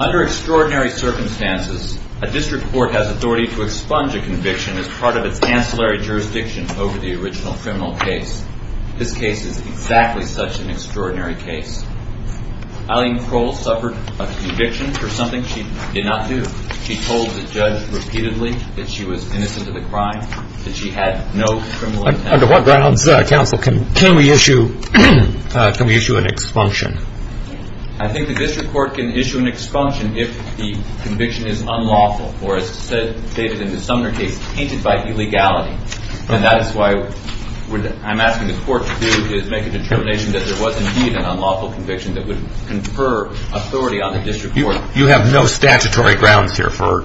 Under extraordinary circumstances, a district court has authority to expunge a conviction as part of its ancillary jurisdiction over the original criminal case. This case is exactly such an extraordinary case. Eileen Crowell suffered a conviction for something she did not do. She told the judge repeatedly that she was innocent of the crime, that she had no criminal intent. Under what grounds, counsel, can we issue an expunction? I think the district court can issue an expunction if the conviction is unlawful or, as stated in the Sumner case, tainted by illegality. And that is why I'm asking the court to make a determination that there was indeed an unlawful conviction that would confer authority on the district court. You have no statutory grounds here for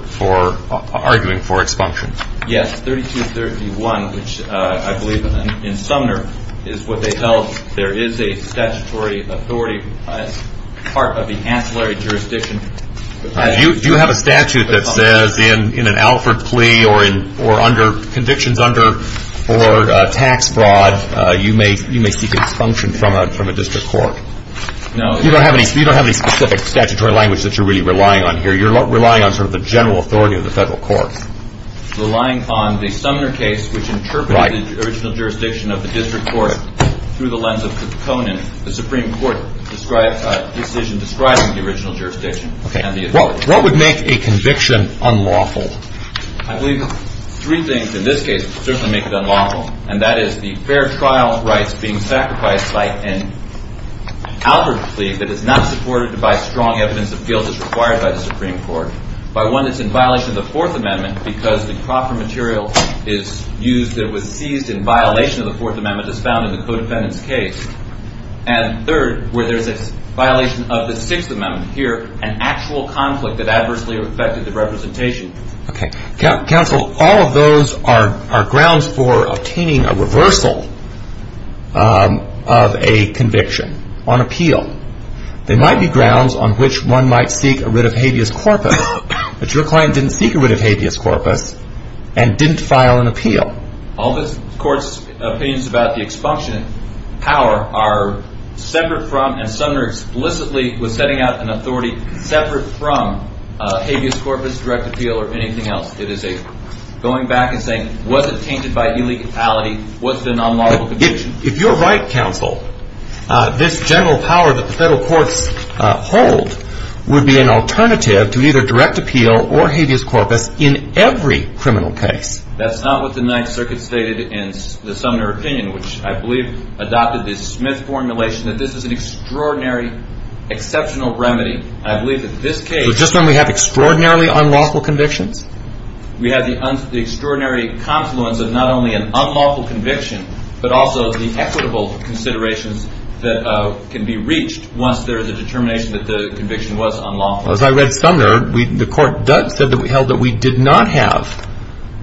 arguing for expunctions? Yes. 3231, which I believe in Sumner is what they held, there is a statutory authority as part of the ancillary jurisdiction. Do you have a statute that says in an Alford plea or under convictions for tax fraud, you may seek expunction from a district court? No. You don't have any specific statutory language that you're really relying on here. You're relying on sort of the general authority of the federal court. Relying on the Sumner case, which interpreted the original jurisdiction of the district court through the lens of the component, the Supreme Court decision describing the original jurisdiction and the authority. What would make a conviction unlawful? I believe three things in this case would certainly make it unlawful, and that is the that is not supported by strong evidence of guilt as required by the Supreme Court. By one, it's in violation of the Fourth Amendment because the proper material is used that was seized in violation of the Fourth Amendment as found in the co-defendant's case. And third, where there's a violation of the Sixth Amendment here, an actual conflict that adversely affected the representation. Counsel, all of those are grounds for obtaining a reversal of a conviction on appeal. There might be grounds on which one might seek a writ of habeas corpus, but your client didn't seek a writ of habeas corpus and didn't file an appeal. All the court's opinions about the expunction power are separate from and Sumner explicitly was setting out an authority separate from habeas corpus, direct appeal, or anything else. It is a going back and saying, was it tainted by illegality? Was it an unlawful conviction? If you're right, counsel, this general power that the federal courts hold would be an alternative to either direct appeal or habeas corpus in every criminal case. That's not what the Ninth Circuit stated in the Sumner opinion, which I believe adopted the Smith formulation, that this is an extraordinary, exceptional remedy. I believe that this case- So just when we have extraordinarily unlawful convictions? We have the extraordinary confluence of not only an unlawful conviction, but also the equitable considerations that can be reached once there is a determination that the conviction was unlawful. Well, as I read Sumner, the court held that we did not have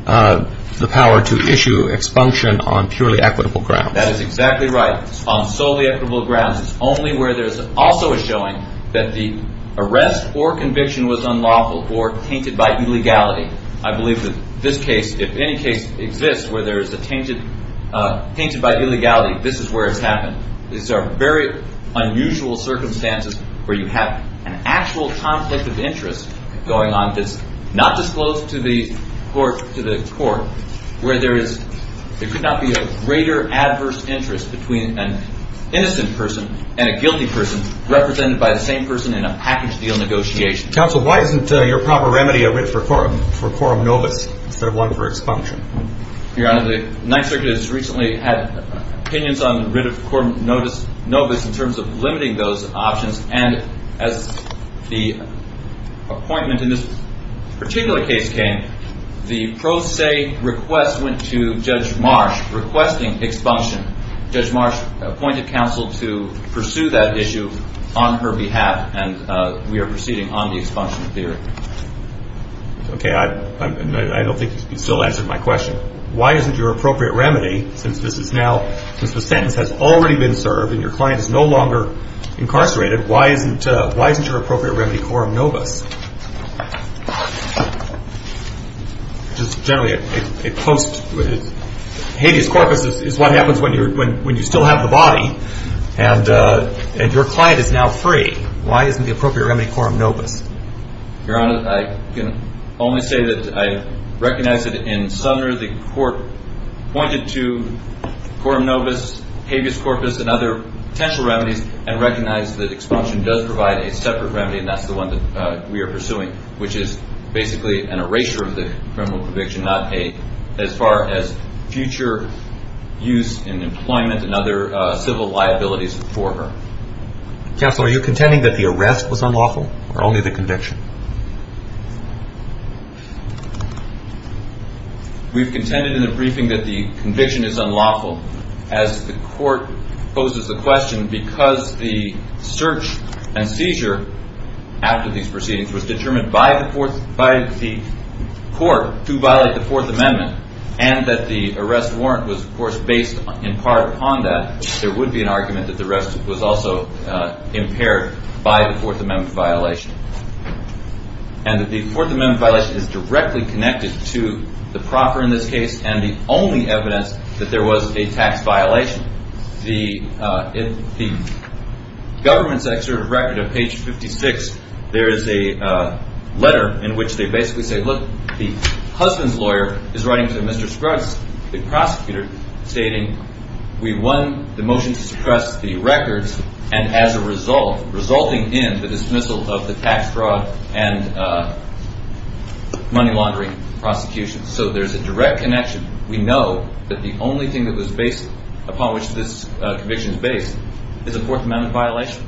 the power to issue expunction on purely equitable grounds. That is exactly right. On solely equitable grounds, it's only where there's also a showing that the arrest or conviction was unlawful or tainted by illegality. I believe that this case, if any case exists where there is a tainted by illegality, this is where it's happened. These are very unusual circumstances where you have an actual conflict of interest going on that's not disclosed to the court where there could not be a greater adverse interest between an innocent person and a guilty person represented by the same person in a package deal negotiation. Counsel, why isn't your proper remedy a writ for quorum novus instead of one for expunction? Your Honor, the Ninth Circuit has recently had opinions on the writ of quorum novus in terms of limiting those options, and as the appointment in this particular case came, the pro se request went to Judge Marsh requesting expunction. Judge Marsh appointed counsel to pursue that issue on her behalf, and we are proceeding on the expunction theory. Okay. I don't think you still answered my question. Why isn't your appropriate remedy, since the sentence has already been served and your client is no longer incarcerated, why isn't your appropriate remedy quorum novus? Just generally, a post, habeas corpus is what happens when you still have the body and your client is now free. Why isn't the appropriate remedy quorum novus? Your Honor, I can only say that I recognize that in Sumner the court pointed to quorum novus and recognized that expunction does provide a separate remedy, and that's the one that we are pursuing, which is basically an erasure of the criminal conviction, not a, as far as future use in employment and other civil liabilities for her. Counsel, are you contending that the arrest was unlawful, or only the conviction? We've contended in the briefing that the conviction is unlawful. As the court poses the question, because the search and seizure after these proceedings was determined by the court to violate the Fourth Amendment, and that the arrest warrant was, of course, based in part upon that, there would be an argument that the arrest was also impaired by the Fourth Amendment violation. And that the Fourth Amendment violation is directly connected to the proper in this case and the only evidence that there was a tax violation. The government's excerpt of record of page 56, there is a letter in which they basically say, look, the husband's lawyer is writing to Mr. Scruggs, the prosecutor, stating, we won the motion to suppress the records, and as a result, resulting in the dismissal of the tax fraud and money laundering prosecution. So there's a direct connection. We know that the only thing that was based upon which this conviction is based is a Fourth Amendment violation.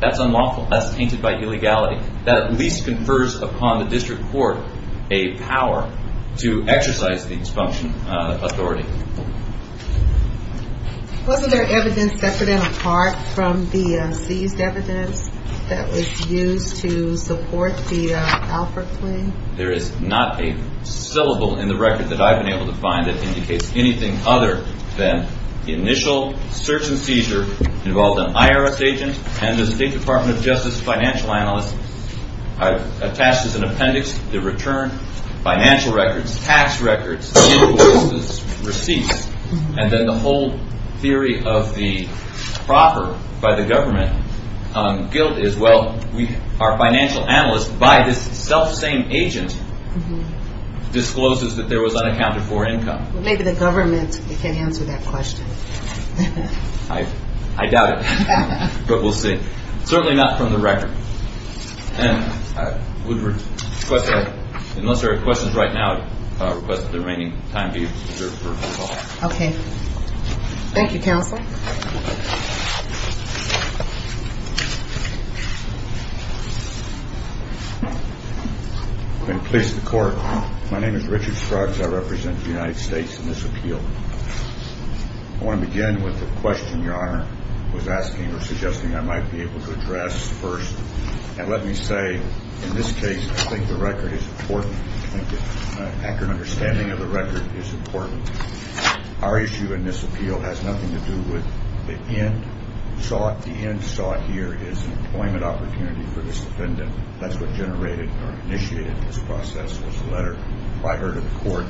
That's unlawful. That's tainted by illegality. That at least confers upon the district court a power to exercise the disfunction authority. Wasn't there evidence separate and apart from the seized evidence that was used to support the Alford claim? There is not a syllable in the record that I've been able to find that indicates anything other than the initial search and seizure involved an IRS agent and the State Department of Justice financial analyst. I've attached as an appendix the return, financial records, tax records, receipts, and then the whole theory of the proper by the government guilt is, well, our financial analyst, by this self-same agent, discloses that there was unaccounted for income. Maybe the government can answer that question. I doubt it, but we'll see. Certainly not from the record. Unless there are questions right now, I request that the remaining time be reserved for recall. Okay. Thank you, Counsel. I'm going to place the court. My name is Richard Scruggs. I represent the United States in this appeal. I want to begin with a question Your Honor was asking or suggesting I might be able to address first. And let me say, in this case, I think the record is important. I think an accurate understanding of the record is important. Our issue in this appeal has nothing to do with the end sought. The end sought here is employment opportunity for this defendant. That's what generated or initiated this process was a letter by her to the court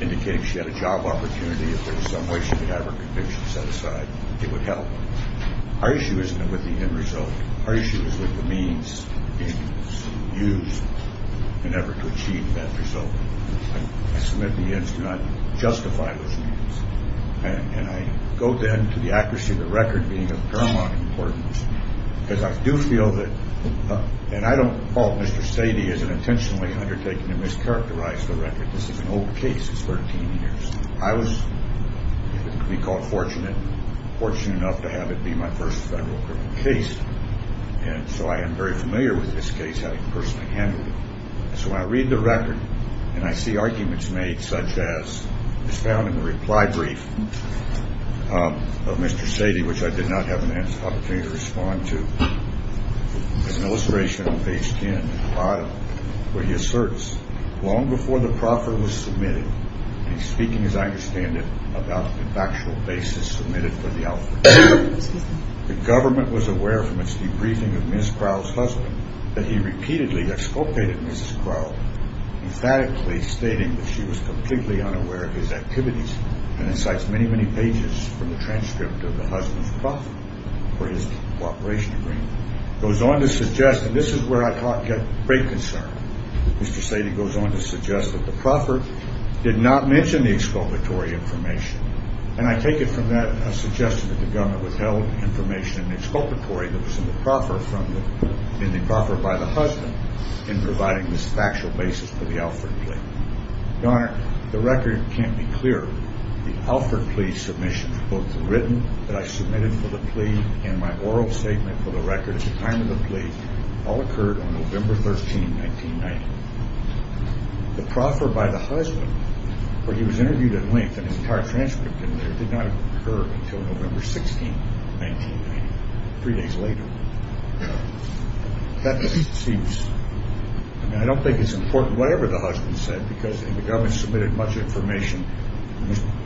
indicating she had a job opportunity. If there was some way she could have her conviction set aside, it would help. Our issue isn't with the end result. Our issue is with the means used in an effort to achieve that result. I submit to the end to not justify those means. And I go then to the accuracy of the record being of paramount importance. Because I do feel that, and I don't fault Mr. Sadie as an intentionally undertaking to mischaracterize the record. This is an old case. It's 13 years. I was, if it could be called fortunate, fortunate enough to have it be my first federal criminal case. And so I am very familiar with this case. I personally handled it. So I read the record and I see arguments made such as is found in the reply brief of Mr. Sadie, which I did not have an opportunity to respond to. An illustration of page 10 where he asserts, long before the proffer was submitted, and he's speaking, as I understand it, about the factual basis submitted for the offer. The government was aware from its debriefing of Ms. Crow's husband that he repeatedly exculpated Mrs. Crow, emphatically stating that she was completely unaware of his activities. And it cites many, many pages from the transcript of the husband's proffer for his cooperation agreement. It goes on to suggest, and this is where I got great concern. Mr. Sadie goes on to suggest that the proffer did not mention the exculpatory information. And I take it from that suggestion that the government withheld information in the exculpatory that was in the proffer by the husband in providing this factual basis for the Alford plea. Your Honor, the record can't be clearer. The Alford plea submission, both the written that I submitted for the plea and my oral statement for the record at the time of the plea, all occurred on November 13, 1990. The proffer by the husband, where he was interviewed at length and his entire transcript in there, did not occur until November 16, 1990, three days later. That seems, I mean, I don't think it's important whatever the husband said because the government submitted much information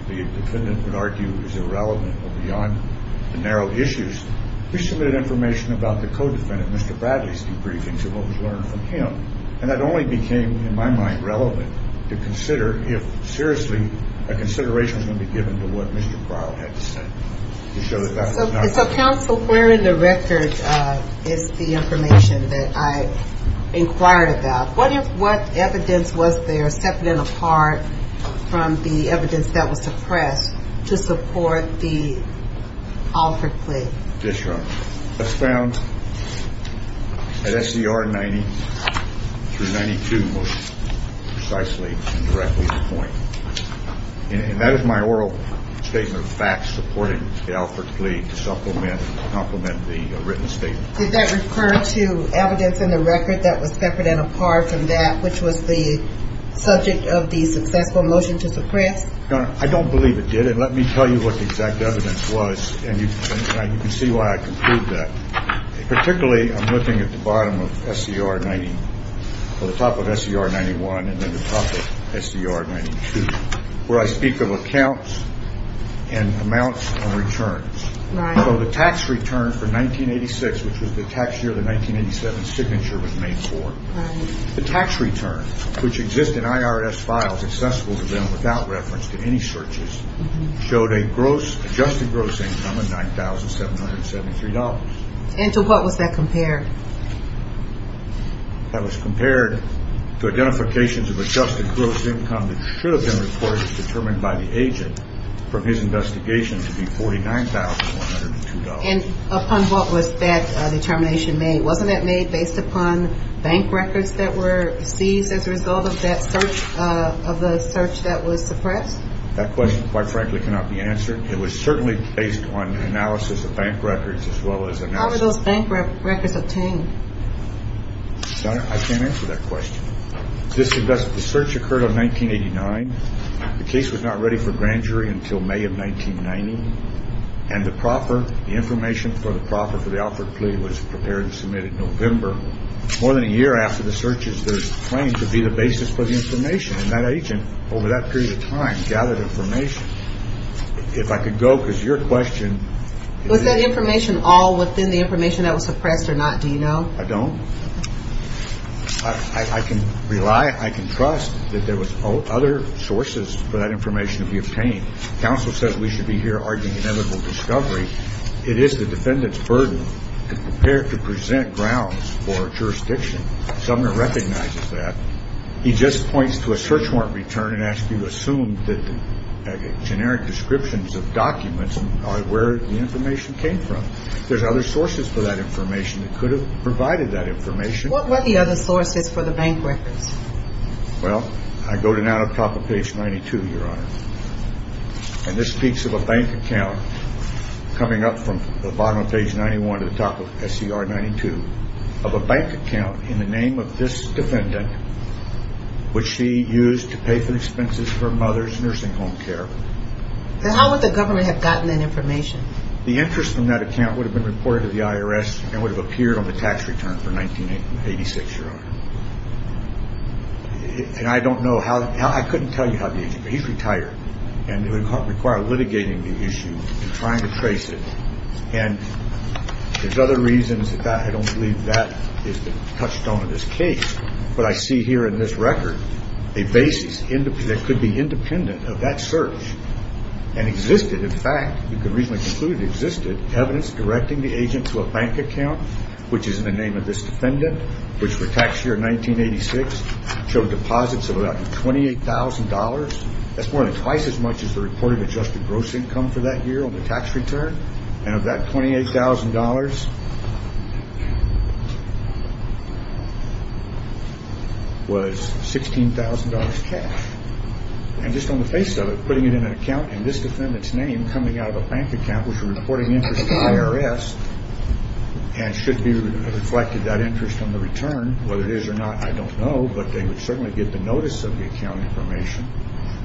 the defendant would argue is irrelevant or beyond the narrow issues. We submitted information about the co-defendant, Mr. Bradley's debriefings and what was learned from him. And that only became, in my mind, relevant to consider if seriously a consideration was going to be required or had to send. So, counsel, where in the record is the information that I inquired about? What evidence was there separate and apart from the evidence that was suppressed to support the Alford plea? Yes, Your Honor. That's found at SCR 90 through 92 most precisely and directly at the point. And that is my oral statement of facts supporting the Alford plea to supplement the written statement. Did that refer to evidence in the record that was separate and apart from that, which was the subject of the successful motion to suppress? Your Honor, I don't believe it did. Well, then let me tell you what the exact evidence was. And you can see why I conclude that. Particularly, I'm looking at the bottom of SCR 90 or the top of SCR 91 and then the top of SCR 92, where I speak of accounts and amounts and returns. So the tax return for 1986, which was the tax year the 1987 signature was made for, the tax return, which exists in IRS files accessible to them without reference to any searches, showed a gross, adjusted gross income of $9,773. And to what was that compared? That was compared to identifications of adjusted gross income that should have been reported and determined by the agent from his investigation to be $49,102. And upon what was that determination made? Wasn't that made based upon bank records that were seized as a result of that search, of the search that was suppressed? That question, quite frankly, cannot be answered. It was certainly based on analysis of bank records as well as analysis. How were those bank records obtained? Your Honor, I can't answer that question. The search occurred on 1989. The case was not ready for grand jury until May of 1990. And the proper information for the proper for the Alfred plea was prepared and submitted in November. More than a year after the searches, there's a claim to be the basis for the information. And that agent, over that period of time, gathered information. If I could go, because your question is... Was that information all within the information that was suppressed or not, do you know? I don't. I can rely, I can trust that there was other sources for that information to be obtained. Counsel says we should be here arguing inevitable discovery. It is the defendant's burden to prepare to present grounds for jurisdiction. Sumner recognizes that. He just points to a search warrant return and asks you to assume that the generic descriptions of documents are where the information came from. There's other sources for that information that could have provided that information. What were the other sources for the bank records? Well, I go to now to the top of page 92, Your Honor. And this speaks of a bank account coming up from the bottom of page 91 to the top of SCR 92. Of a bank account in the name of this defendant, which she used to pay for expenses for her mother's nursing home care. Then how would the government have gotten that information? The interest from that account would have been reported to the IRS and would have appeared on the tax return for 1986, Your Honor. And I don't know how, I couldn't tell you how the agent, but he's retired. And it would require litigating the issue and trying to trace it. And there's other reasons that I don't believe that is the touchstone of this case. But I see here in this record a basis that could be independent of that search. And existed, in fact, you could reasonably conclude it existed, evidence directing the agent to a bank account, which is in the name of this defendant, which for tax year 1986 showed deposits of about $28,000. That's more than twice as much as the reported adjusted gross income for that year on the tax return. And of that $28,000 was $16,000 cash. And just on the face of it, putting it in an account in this defendant's name coming out of a bank account was reporting interest to the IRS. And should be reflected that interest on the return, whether it is or not, I don't know. But they would certainly get the notice of the account information.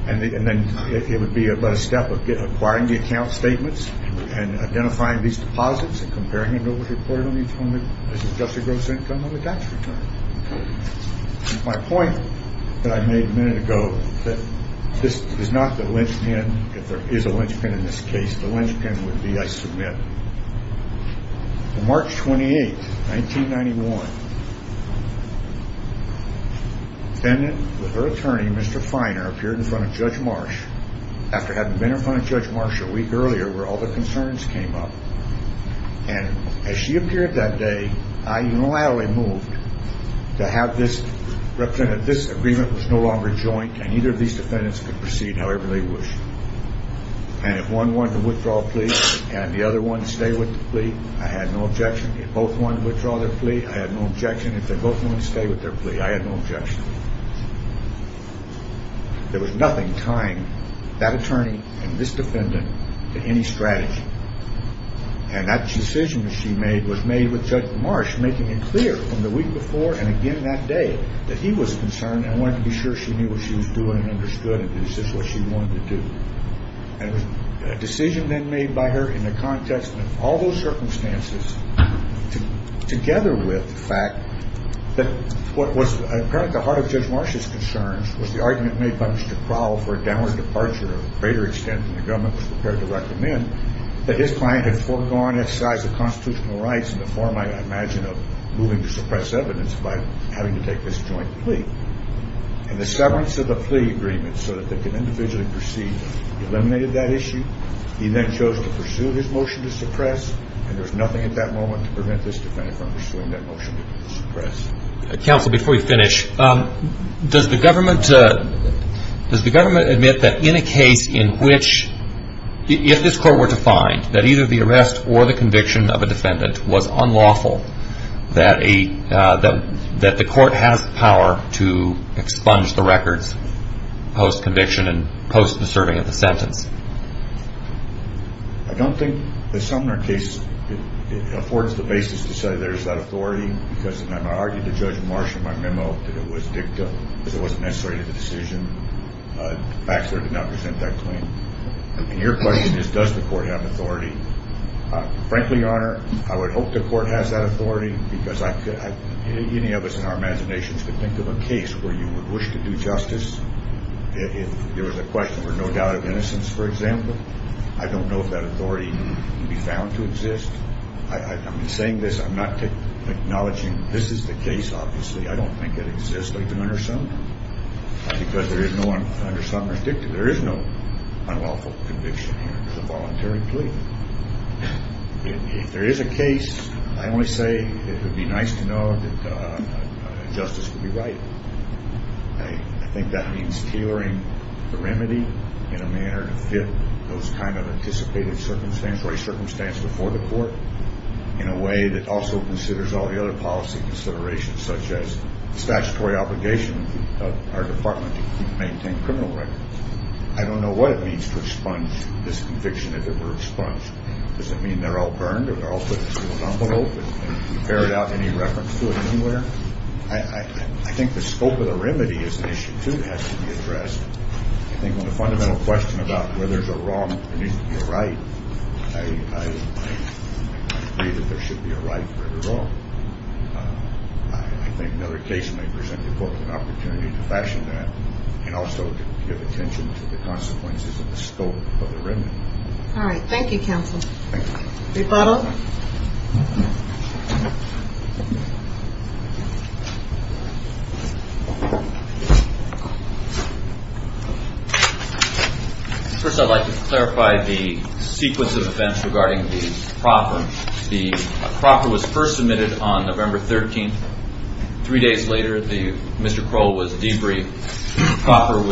And then it would be about a step of acquiring the account statements and identifying these deposits and comparing them to what was reported on each one of the adjusted gross income on the tax return. My point that I made a minute ago that this is not the linchpin. If there is a linchpin in this case, the linchpin would be I submit. March 28th, 1991, defendant with her attorney, Mr. Finer, appeared in front of Judge Marsh after having been in front of Judge Marsh a week earlier where all the concerns came up. And as she appeared that day, I unilaterally moved to have this representative. This agreement was no longer joint and either of these defendants could proceed however they wish. And if one wanted to withdraw a plea and the other one stay with the plea, I had no objection. If both wanted to withdraw their plea, I had no objection. If they both wanted to stay with their plea, I had no objection. There was nothing tying that attorney and this defendant to any strategy. And that decision that she made was made with Judge Marsh, making it clear from the week before and again that day that he was concerned and wanted to be sure she knew what she was doing and understood that this is what she wanted to do. And a decision then made by her in the context of all those circumstances together with the fact that what was apparently the heart of Judge Marsh's concerns was the argument made by Mr. Crowell for a downward departure to a greater extent than the government was prepared to recommend. That his client had foregone exercise of constitutional rights in the form I imagine of moving to suppress evidence by having to take this joint plea. And the severance of the plea agreement so that they could individually proceed eliminated that issue. He then chose to pursue his motion to suppress and there's nothing at that moment to prevent this defendant from pursuing that motion to suppress. Counsel, before we finish, does the government admit that in a case in which if this court were to find that either the arrest or the conviction of a defendant was unlawful, that the court has power to expunge the records post conviction and post the serving of the sentence? I don't think the Sumner case affords the basis to say there's that authority because I argued to Judge Marsh in my memo that it was dicta because it wasn't necessary to the decision. Baxter did not present that claim. And your question is does the court have authority? Frankly, your honor, I would hope the court has that authority because I could have any of us in our imaginations to think of a case where you would wish to do justice. If there was a question for no doubt of innocence, for example, I don't know if that authority can be found to exist. I'm saying this. I'm not acknowledging this is the case. Obviously, I don't think it exists. Because there is no unlawful conviction here. It's a voluntary plea. If there is a case, I only say it would be nice to know that justice would be right. I think that means tailoring the remedy in a manner to fit those kind of anticipated circumstances or a circumstance before the court in a way that also considers all the other policy considerations such as statutory obligation of our department to maintain criminal records. I don't know what it means to expunge this conviction if it were expunged. Does it mean they're all burned or they're all put in a sealed envelope and you ferret out any reference to it anywhere? I think the scope of the remedy is an issue, too, that has to be addressed. I think when the fundamental question about whether there's a wrong or there needs to be a right, I agree that there should be a right for the wrong. I think another case may present the court with an opportunity to fashion that and also to give attention to the consequences of the scope of the remedy. All right. Thank you, counsel. Thank you. Mr. Potter? First, I'd like to clarify the sequence of events regarding the proffer. The proffer was first submitted on November 13th. Three days later, Mr. Crowell was debriefed. The proffer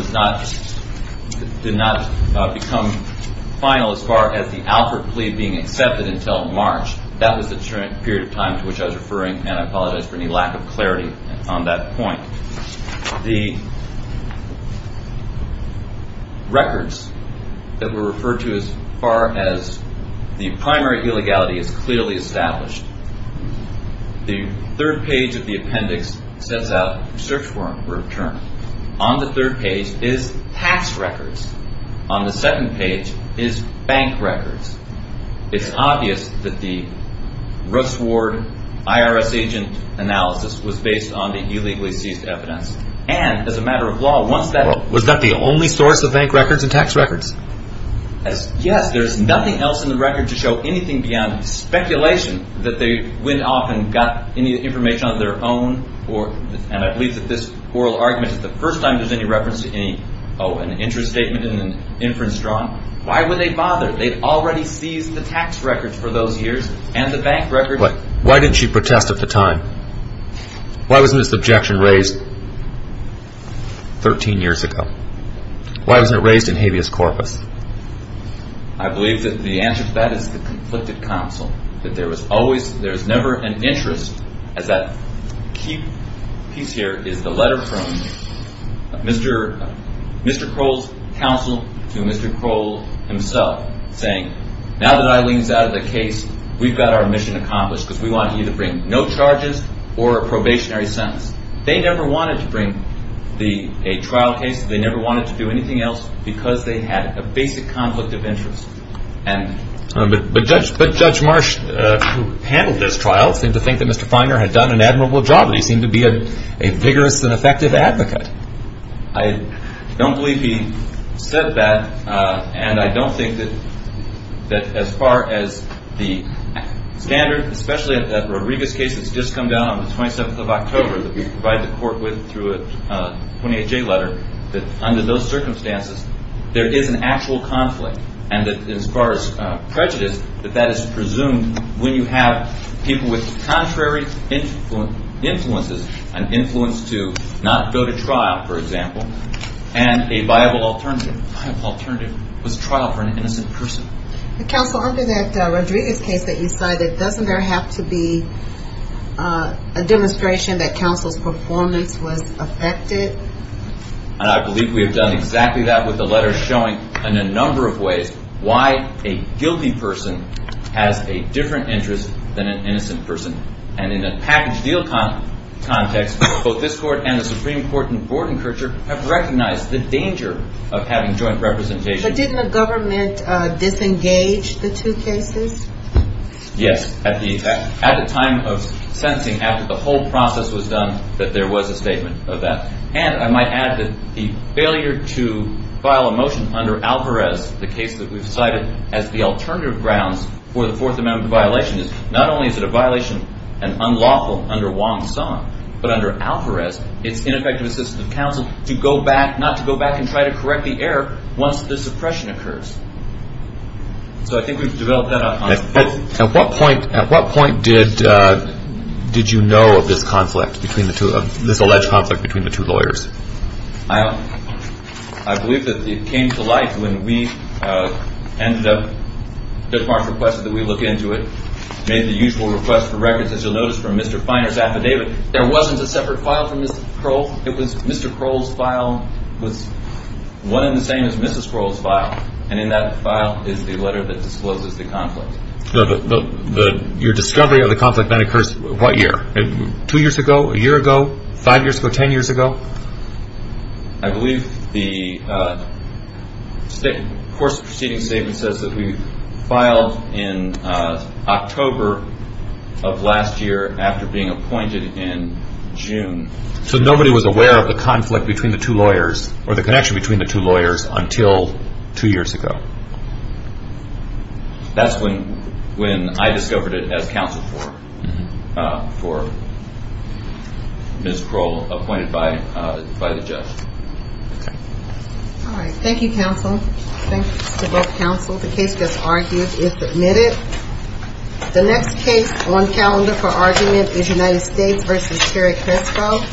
did not become final as far as the Alfred plea being accepted until March. That was the period of time to which I was referring, and I apologize for any lack of clarity on that point. The records that were referred to as far as the primary illegality is clearly established. The third page of the appendix sets out search warrant return. On the third page is tax records. On the second page is bank records. It's obvious that the Russ Ward IRS agent analysis was based on the illegally seized evidence, and as a matter of law, once that Was that the only source of bank records and tax records? Yes. There's nothing else in the record to show anything beyond speculation that they went off and got any information on their own, and I believe that this oral argument is the first time there's any reference to any interest statement and an inference drawn. Why would they bother? They'd already seized the tax records for those years and the bank records. Why didn't she protest at the time? Why wasn't this objection raised 13 years ago? Why wasn't it raised in habeas corpus? I believe that the answer to that is the conflicted counsel. There's never an interest, as that key piece here is the letter from Mr. Kroll's counsel to Mr. Kroll himself saying, Now that Eileen's out of the case, we've got our mission accomplished because we want you to bring no charges or a probationary sentence. They never wanted to bring a trial case. They never wanted to do anything else because they had a basic conflict of interest. But Judge Marsh, who handled this trial, seemed to think that Mr. Feiner had done an admirable job and he seemed to be a vigorous and effective advocate. I don't believe he said that, and I don't think that as far as the standard, especially in the Rodriguez case that's just come down on the 27th of October that we provide the court with through a 28-J letter, that under those circumstances, there is an actual conflict. And as far as prejudice, that that is presumed when you have people with contrary influences, an influence to not go to trial, for example, and a viable alternative. A viable alternative was trial for an innocent person. Counsel, under that Rodriguez case that you cited, doesn't there have to be a demonstration that counsel's performance was affected? And I believe we have done exactly that with the letter showing in a number of ways why a guilty person has a different interest than an innocent person. And in a package deal context, both this court and the Supreme Court in Gordon-Kircher have recognized the danger of having joint representation. But didn't the government disengage the two cases? Yes, at the time of sentencing, after the whole process was done, that there was a statement of that. And I might add that the failure to file a motion under Alvarez, the case that we've cited as the alternative grounds for the Fourth Amendment violation, not only is it a violation and unlawful under Wong-Song, but under Alvarez, it's ineffective assistance of counsel to go back, not to go back and try to correct the error once the suppression occurs. So I think we've developed that on both. At what point did you know of this alleged conflict between the two lawyers? I believe that it came to light when Judge Marks requested that we look into it, made the usual request for records, as you'll notice, from Mr. Finer's affidavit. There wasn't a separate file from Mr. Kroll's. Mr. Kroll's file was one and the same as Mrs. Kroll's file. And in that file is the letter that discloses the conflict. Your discovery of the conflict then occurs what year? Two years ago, a year ago, five years ago, ten years ago? I believe the course of proceedings statement says that we filed in October of last year after being appointed in June. So nobody was aware of the conflict between the two lawyers or the connection between the two lawyers until two years ago. That's when I discovered it as counsel for Mrs. Kroll, appointed by the judge. All right. Thank you, counsel. Thanks to both counsel. The case that's argued is submitted. The next case on calendar for argument is United States v. Terry Crespo.